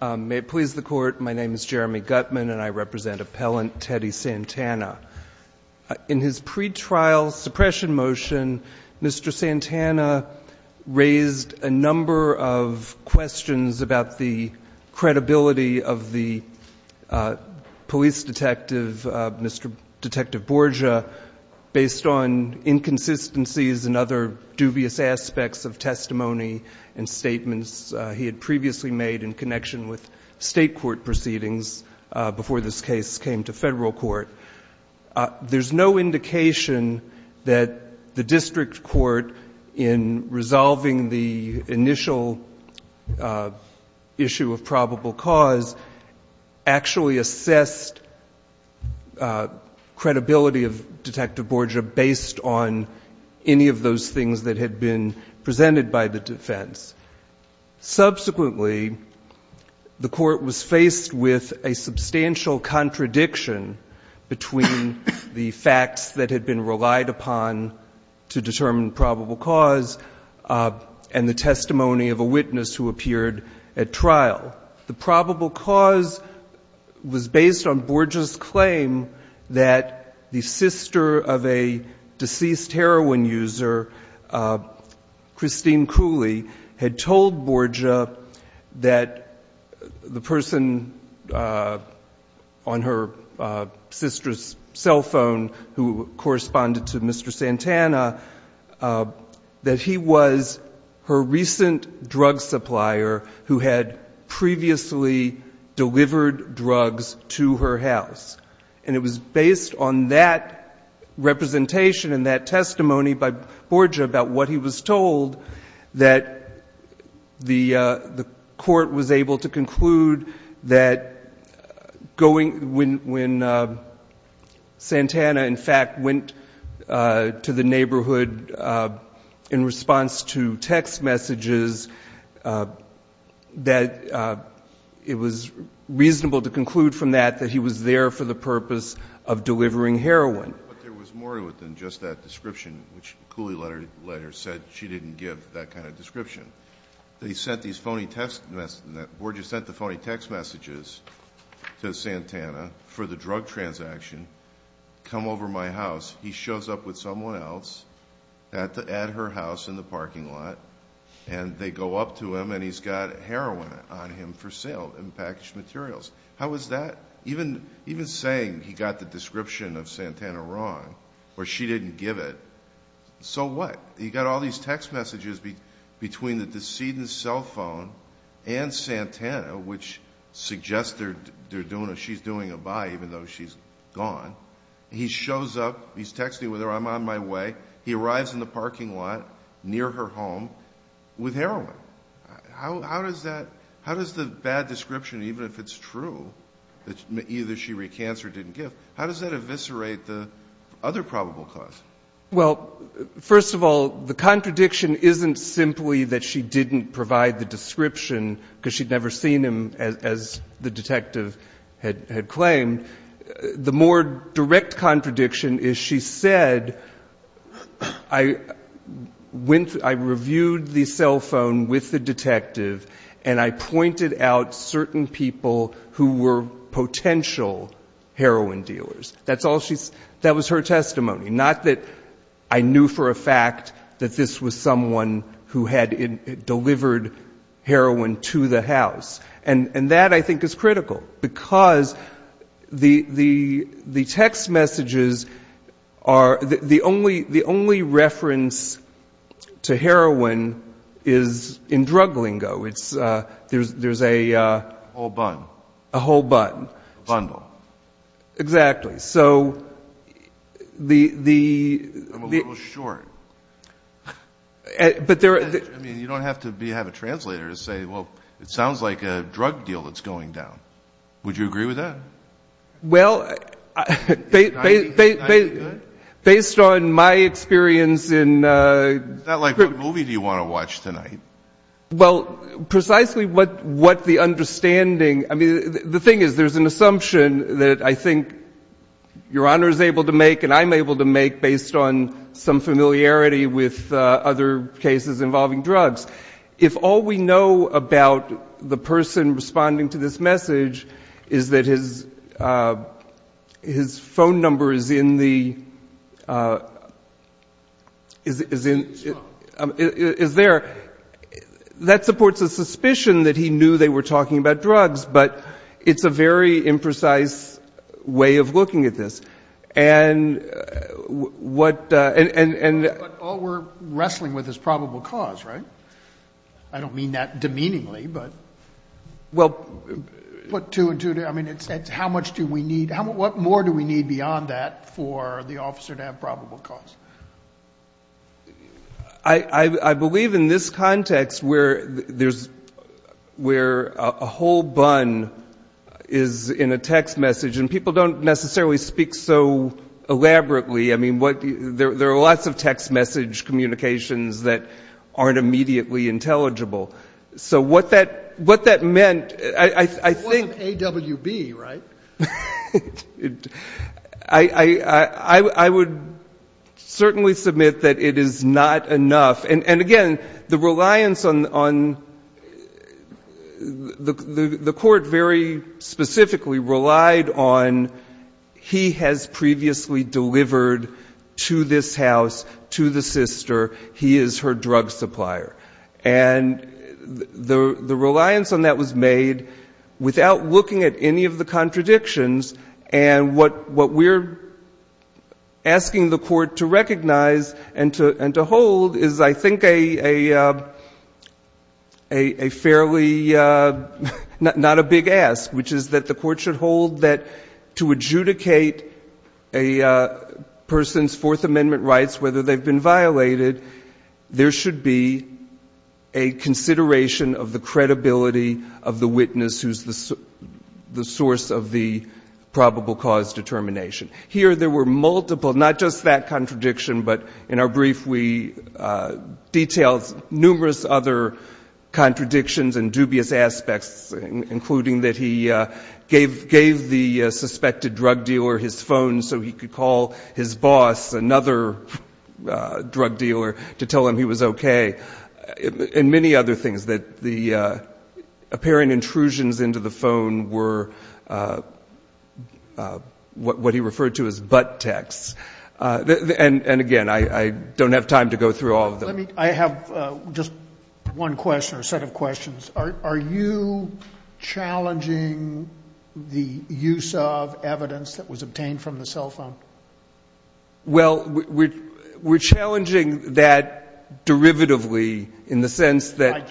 May it please the court my name is Jeremy Gutman and I represent appellant Teddy Santana. In his pretrial suppression motion Mr. Santana raised a number of questions about the credibility of the police detective Mr. Detective Borgia based on inconsistencies and other dubious aspects of testimony and statements he had previously made in connection with state court proceedings before this case came to federal court. There's no indication that the district court in resolving the initial issue of probable cause actually assessed credibility of detective Borgia based on any of those things that had been presented by the defense. Subsequently the court was faced with a substantial contradiction between the facts that had been relied upon to determine probable cause and the testimony of a witness who appeared at trial. The probable cause was based on Borgia's claim that the sister of a deceased heroin user Christine Cooley had told Borgia that the person on her sister's cell phone who corresponded to Mr. Santana that he was her recent drug supplier who had previously delivered drugs to her house and it was based on that representation and that testimony by Borgia about what he was told that the court was able to conclude that when Santana in fact went to the neighborhood in response to text messages that it was reasonable to conclude from that that he was there for the purpose of delivering heroin. But there was more to it than just that description which the Cooley letter said she didn't give that kind of description. They sent these phony text messages, Borgia sent the phony text messages to Santana for the drug transaction, come over my house, he shows up with someone else at her house in the parking lot and they go up to him and he's got heroin on him for sale in packaged materials. How is that? Even saying he got the description of Santana wrong or she didn't give it, so what? He got all these text messages between the decedent's cell phone and Santana which suggested she's doing a buy even though she's gone. He shows up, he's texting with her, I'm on my way, he arrives in the near her home with heroin. How does the bad description, even if it's true that either she recants or didn't give, how does that eviscerate the other probable cause? Well, first of all, the contradiction isn't simply that she didn't provide the description because she'd never seen him as the detective had claimed. The more I reviewed the cell phone with the detective and I pointed out certain people who were potential heroin dealers. That was her testimony, not that I knew for a fact that this was someone who had delivered heroin to the house. And that I to heroin is in drug lingo. There's a whole bun. A whole bun. A bundle. Exactly. I'm a little short. You don't have to have a translator to say, well, it sounds like a drug deal that's going down. Would you agree with that? Well, based on my experience in... Is that like what movie do you want to watch tonight? Well, precisely what the understanding... I mean, the thing is, there's an assumption that I think Your Honor is able to make and I'm able to make based on some familiarity with other cases involving drugs. If all we know about the is there. That supports a suspicion that he knew they were talking about drugs, but it's a very imprecise way of looking at this. And what... But all we're wrestling with is probable cause, right? I don't mean that demeaningly, but... Well... But to... I mean, it's how much do we need? What more do we need beyond that for the officer to have probable cause? I believe in this context where there's... Where a whole bun is in a text message and people don't necessarily speak so elaborately. I mean, there are lots of text message communications that aren't immediately intelligible. So what that meant, I think... It wasn't AWB, right? I would certainly submit that it is not enough. And again, the reliance on... The court very specifically relied on, he has previously delivered to this house, to the sister, he is her drug supplier. And the reliance on that was contradictions. And what we're asking the court to recognize and to hold is, I think, a fairly... Not a big ask, which is that the court should hold that to adjudicate a person's Fourth Amendment rights, whether they've been violated, there should be a consideration of the credibility of the witness who's the source of the probable cause determination. Here there were multiple, not just that contradiction, but in our brief we detailed numerous other contradictions and dubious aspects, including that he gave the suspected drug dealer his phone so he could call his boss, another drug dealer, to tell him he was okay. And many other things, that the apparent intrusions into the phone were what he referred to as butt texts. And again, I don't have time to go through all of them. I have just one question, or set of questions. Are you challenging the use of evidence that was obtained from the cell phone? Well, we're challenging that derivatively, in the sense that...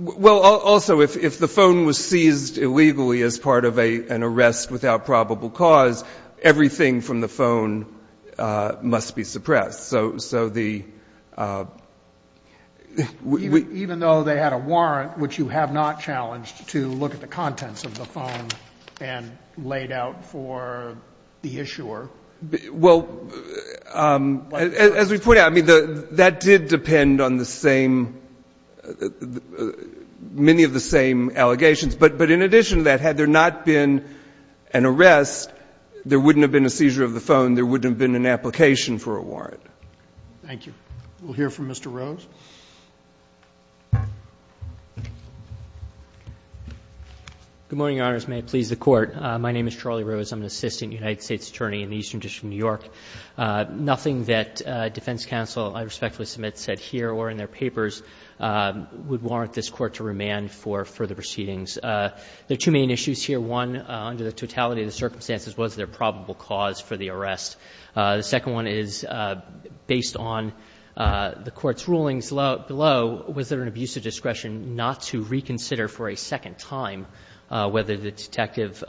Well, also, if the phone was seized illegally as part of an arrest without probable cause, everything from the phone must be suppressed. So the... Even though they had a warrant, which you have not challenged, to look at the contents of the phone and lay it out for the issuer? Well, as we pointed out, that did depend on the same, many of the same allegations. But in addition to that, had there not been an arrest, there wouldn't have been a seizure of the phone, there wouldn't have been an application for a warrant. Thank you. We'll hear from Mr. Rose. Good morning, Your Honors. May it please the Court. My name is Charlie Rose. I'm an attorney with the Eastern District of New York. Nothing that defense counsel, I respectfully submit, said here or in their papers would warrant this Court to remand for further proceedings. There are two main issues here. One, under the totality of the circumstances, was there probable cause for the arrest? The second one is based on the Court's rulings below, was there an abuse of discretion not to reconsider for a second time whether the detective's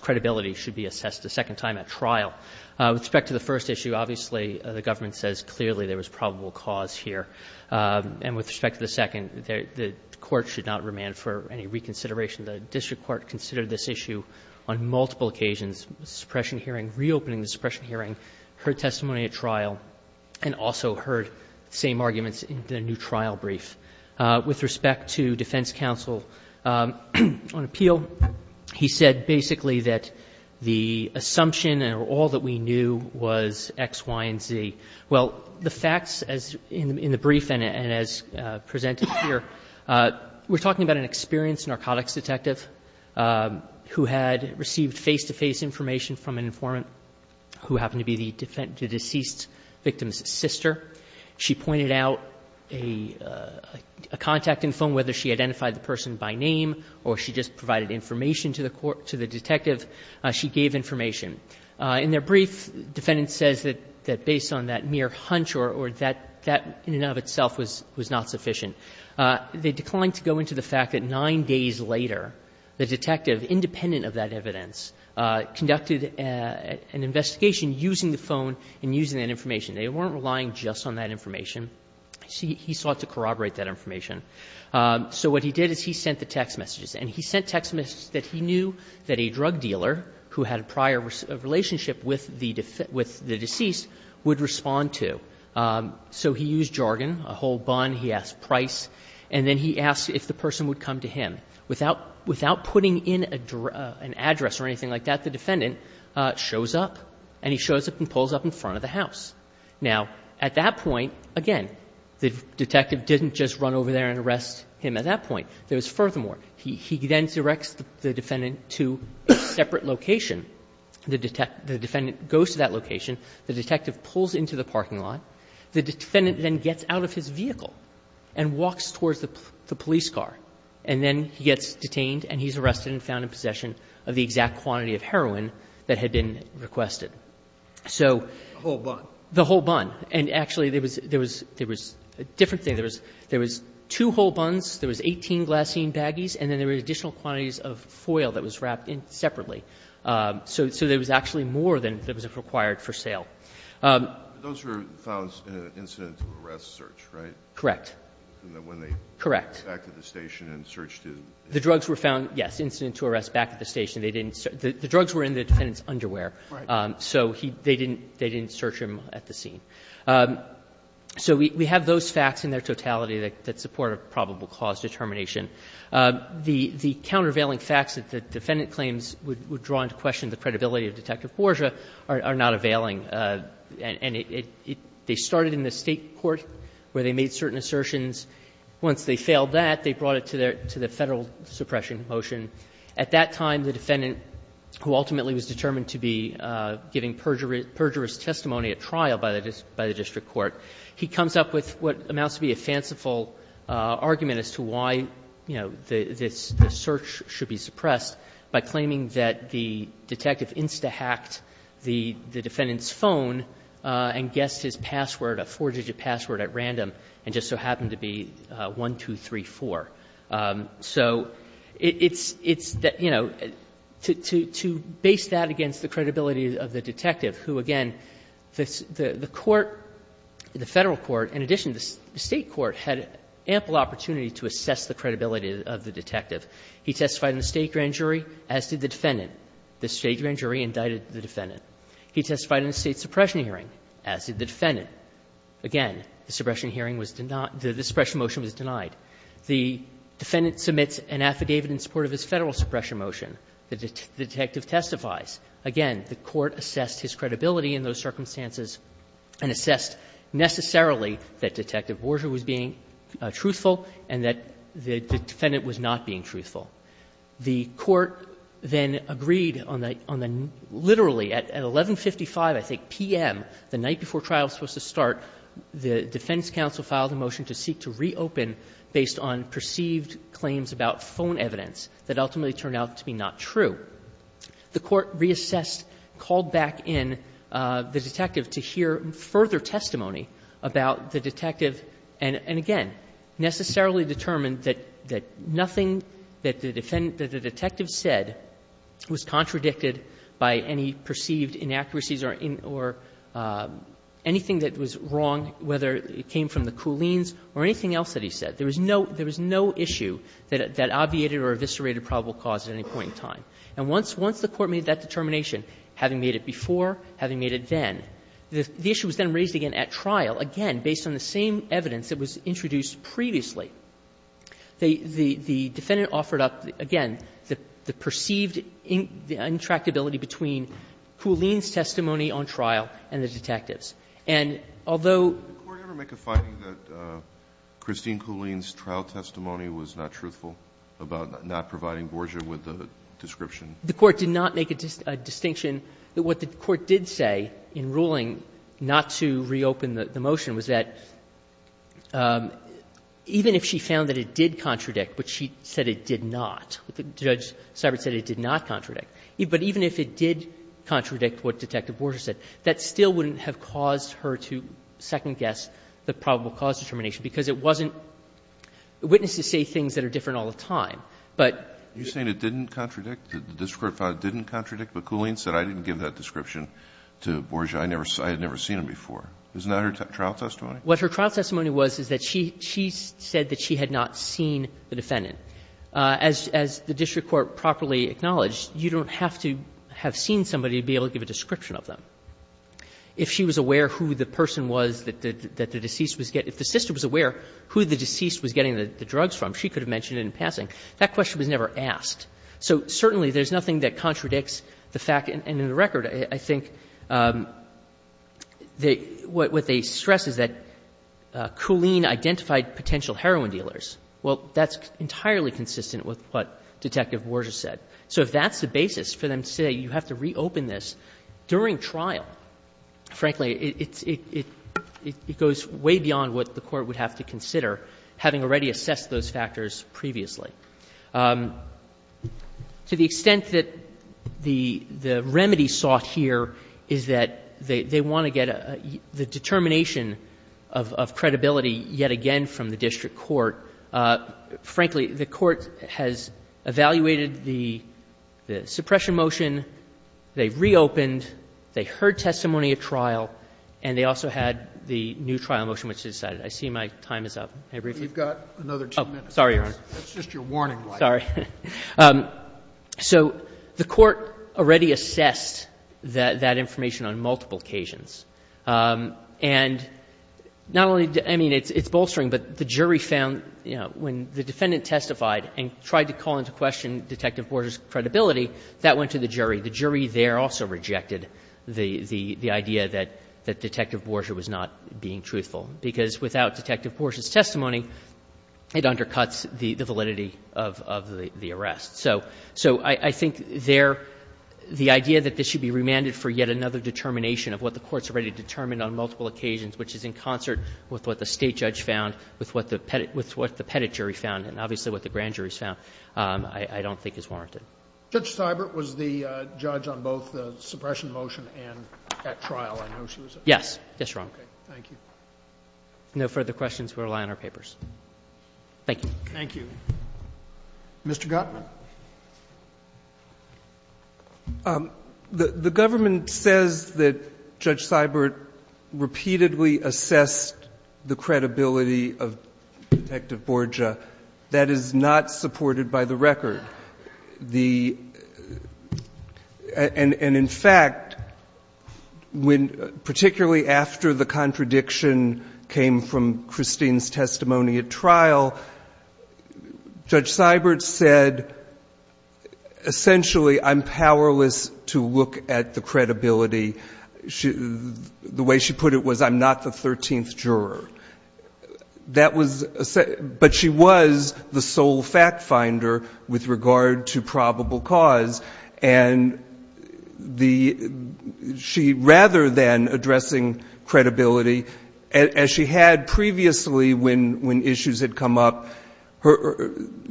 credibility should be assessed a second time at trial? With respect to the first issue, obviously, the government says clearly there was probable cause here. And with respect to the second, the Court should not remand for any reconsideration. The district court considered this issue on multiple occasions, suppression hearing, reopening the suppression hearing, heard testimony at trial, and also heard the same arguments in the new trial brief. With respect to defense counsel on appeal, he said basically that the assumption and all that we knew was X, Y, and Z. Well, the facts in the brief and as presented here, we're talking about an experienced narcotics detective who had received face-to-face information from an informant who happened to be the deceased victim's sister. She pointed out a contact in the information to the detective. She gave information. In their brief, the defendant says that based on that mere hunch or that in and of itself was not sufficient. They declined to go into the fact that nine days later, the detective, independent of that evidence, conducted an investigation using the phone and using that information. They weren't relying just on that information. He sought to corroborate that information. So what he did is he sent the text messages. And he sent text messages that he knew that a drug dealer who had a prior relationship with the deceased would respond to. So he used jargon, a whole bun, he asked price, and then he asked if the person would come to him. Without putting in an address or anything like that, the defendant shows up, and he shows up and pulls up in front of the house. Now, at that point, again, the detective didn't just run over there and arrest him at that point. There was furthermore. He then directs the defendant to a separate location. The defendant goes to that location. The detective pulls into the parking lot. The defendant then gets out of his vehicle and walks towards the police car. And then he gets detained, and he's arrested and found in possession of the exact quantity of heroin that had been requested. So the whole bun. And actually, there was a different thing. There was two whole buns, there was 18 glassine baggies, and then there were additional quantities of foil that was wrapped separately. So there was actually more than was required for sale. Those were found in an incident-to-arrest search, right? Correct. When they went back to the station and searched it. The drugs were found, yes, incident-to-arrest back at the station. They didn't search. The drugs were in the defendant's underwear. So they didn't search him at the scene. So we have those facts in their totality that support a probable cause determination. The countervailing facts that the defendant claims would draw into question the credibility of Detective Borgia are not availing. And they started in the State court where they made certain assertions. Once they failed that, they brought it to the Federal suppression motion. At that time, the defendant, who ultimately was determined to be giving perjurous testimony at trial by the district court, he comes up with what amounts to be a fanciful argument as to why, you know, the search should be suppressed by claiming that the detective insta-hacked the defendant's phone and guessed his password, a four-digit password at random, and just so happened to be 1234. So it's, you know, to base that against the credibility of the detective, who, again, the court, the Federal court, in addition to the State court, had ample opportunity to assess the credibility of the detective. He testified in the State grand jury, as did the defendant. The State grand jury indicted the defendant. He testified in the State suppression hearing, as did the defendant. The suppression motion was denied. The defendant submits an affidavit in support of his Federal suppression motion. The detective testifies. Again, the court assessed his credibility in those circumstances and assessed necessarily that Detective Borgia was being truthful and that the defendant was not being truthful. The court then agreed on the literally at 1155, I think, p.m., the night before trial was supposed to start, the defense counsel filed a motion to seek to reopen the detective based on perceived claims about phone evidence that ultimately turned out to be not true. The court reassessed, called back in the detective to hear further testimony about the detective, and again, necessarily determined that nothing that the detective said was contradicted by any perceived inaccuracies or anything that was wrong, whether it came from the Kuhlins or anything else that he said. There was no issue that obviated or eviscerated probable cause at any point in time. And once the court made that determination, having made it before, having made it then, the issue was then raised again at trial, again, based on the same evidence that was introduced previously. The defendant offered up, again, the perceived intractability between Kuhlins' testimony on trial and the detective's. And although the court did not make a distinction that what the court did say in ruling not to reopen the motion was that even if she found that it did contradict, but she said it did not, Judge Sybert said it did not contradict, but even if it did contradict, the court did not make a distinction that what the court did say in ruling not to reopen the motion was that even if she found that it did not contradict, but she said it did not contradict, but even if she said it did not contradict, if the sister was aware who the deceased was getting the drugs from, she could have mentioned it in passing. That question was never asked. So certainly there's nothing that contradicts the fact, and in the record, I think what they stress is that Kuline identified potential heroin dealers. Well, that's entirely consistent with what Detective Borges said. So if that's the basis for them to say you have to reopen this during trial, frankly, it goes way beyond what the court would have to consider, having already assessed those factors previously. To the extent that the remedy sought here is that they want to get the determination of credibility yet again from the district court. Frankly, the court has evaluated the suppression motion. They've reopened. They heard testimony at trial. And they also had the new trial motion, which they decided. I see my time is up. May I brief you? You've got another two minutes. Waxman. Sorry, Your Honor. Scalia. That's just your warning light. Waxman. Sorry. So the court already assessed that information on multiple occasions. And not only did the — I mean, it's bolstering, but the jury found, you know, when the defendant testified and tried to call into question Detective Borges' credibility, that went to the jury. The jury there also rejected the idea that Detective Borges was not being truthful, because without Detective Borges' testimony, it undercuts the validity of the arrest. So I think there, the idea that this should be remanded for yet another determination of what the courts have already determined on multiple occasions, which is in concert with what the State judge found, with what the Petit jury found, and obviously what the grand jury found, I don't think is warranted. Judge Seibert was the judge on both the suppression motion and at trial. I know she was at trial. Yes. Yes, Your Honor. Okay. Thank you. No further questions. We'll rely on our papers. Thank you. Thank you. Mr. Gottman. The government says that Judge Seibert repeatedly assessed the credibility of Detective Borges. That is not supported by the record. And in fact, particularly after the contradiction came from Christine's testimony at trial, Judge Seibert said, essentially, I'm powerless to look at the credibility. The way she put it was, I'm not the 13th juror. But she was the sole fact finder with regard to probable cause. And she, rather than addressing credibility, as she had previously when issues had come up,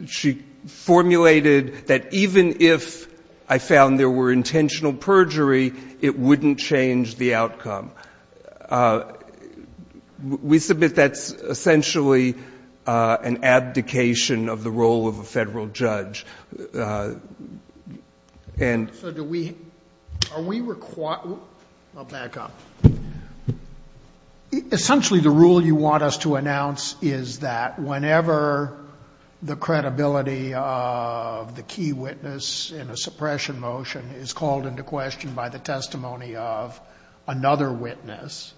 she formulated that even if I found there were intentional perjury, it wouldn't change the outcome. We submit that's essentially an abdication of the role of a federal judge. And— So do we—are we—I'll back up. Essentially, the rule you want us to announce is that whenever the credibility of the key witness in a suppression motion is called into question by the testimony of another witness,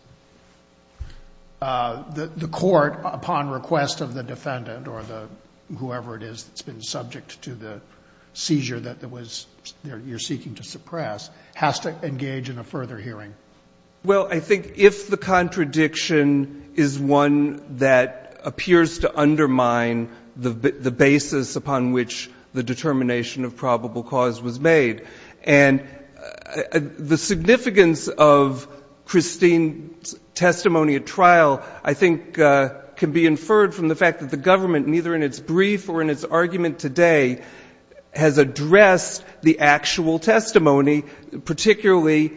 the court, upon request of the defendant or whoever it is that's been subject to the seizure that you're seeking to suppress, has to engage in a further hearing. Well, I think if the contradiction is one that appears to undermine the basis upon which the determination of probable cause was made. And the significance of Christine's testimony at trial, I think, can be inferred from the fact that the government, neither in its brief or in its argument today, has addressed the actual testimony, particularly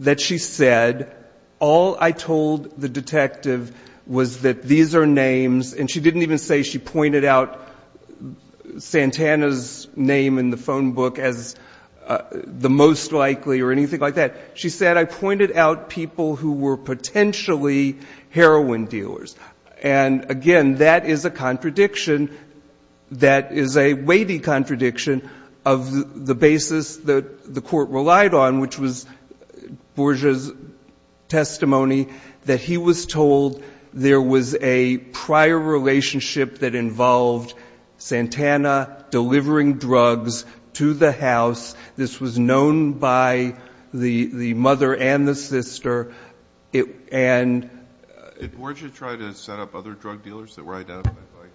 that she said, all I told the detective was that these are names. And she didn't even say she pointed out Santana's name in the phone book as the most likely or anything like that. She said, I pointed out people who were potentially heroin dealers. And, again, that is a contradiction that is a weighty contradiction of the basis that the court relied on, which was Borgia's testimony, that he was told there was a prior relationship that involved Santana delivering drugs to the house. This was known by the mother and the sister. And ---- Did Borgia try to set up other drug dealers that were identified by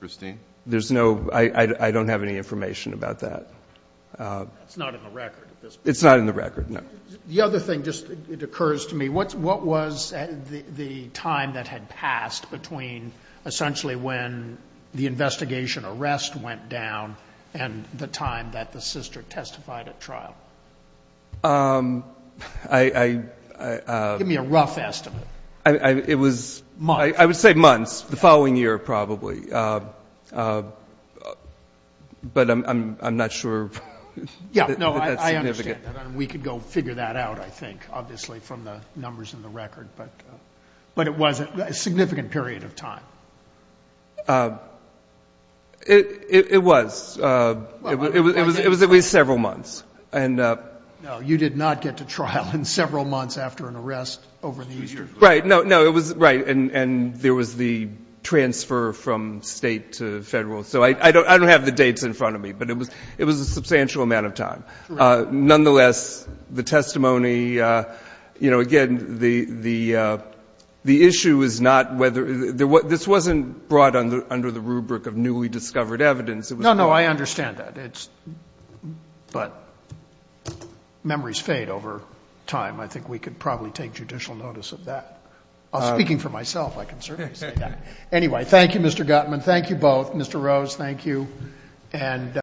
Christine? There's no ---- I don't have any information about that. It's not in the record at this point. It's not in the record, no. The other thing, just it occurs to me, what was the time that had passed between essentially when the investigation arrest went down and the time that the sister testified at trial? I ---- Give me a rough estimate. It was ---- Months. I would say months, the following year probably. But I'm not sure that that's significant. Yeah, no, I understand that. And we could go figure that out, I think, obviously, from the numbers in the record. But it was a significant period of time. It was. It was at least several months. And ---- No, you did not get to trial in several months after an arrest over the years. Right. No, it was, right. And there was the transfer from State to Federal. So I don't have the dates in front of me. But it was a substantial amount of time. Nonetheless, the testimony, you know, again, the issue is not whether ---- This wasn't brought under the rubric of newly discovered evidence. No, no, I understand that. But memories fade over time. I think we could probably take judicial notice of that. Speaking for myself, I can certainly say that. Anyway, thank you, Mr. Gutman. Thank you both. Mr. Rose, thank you.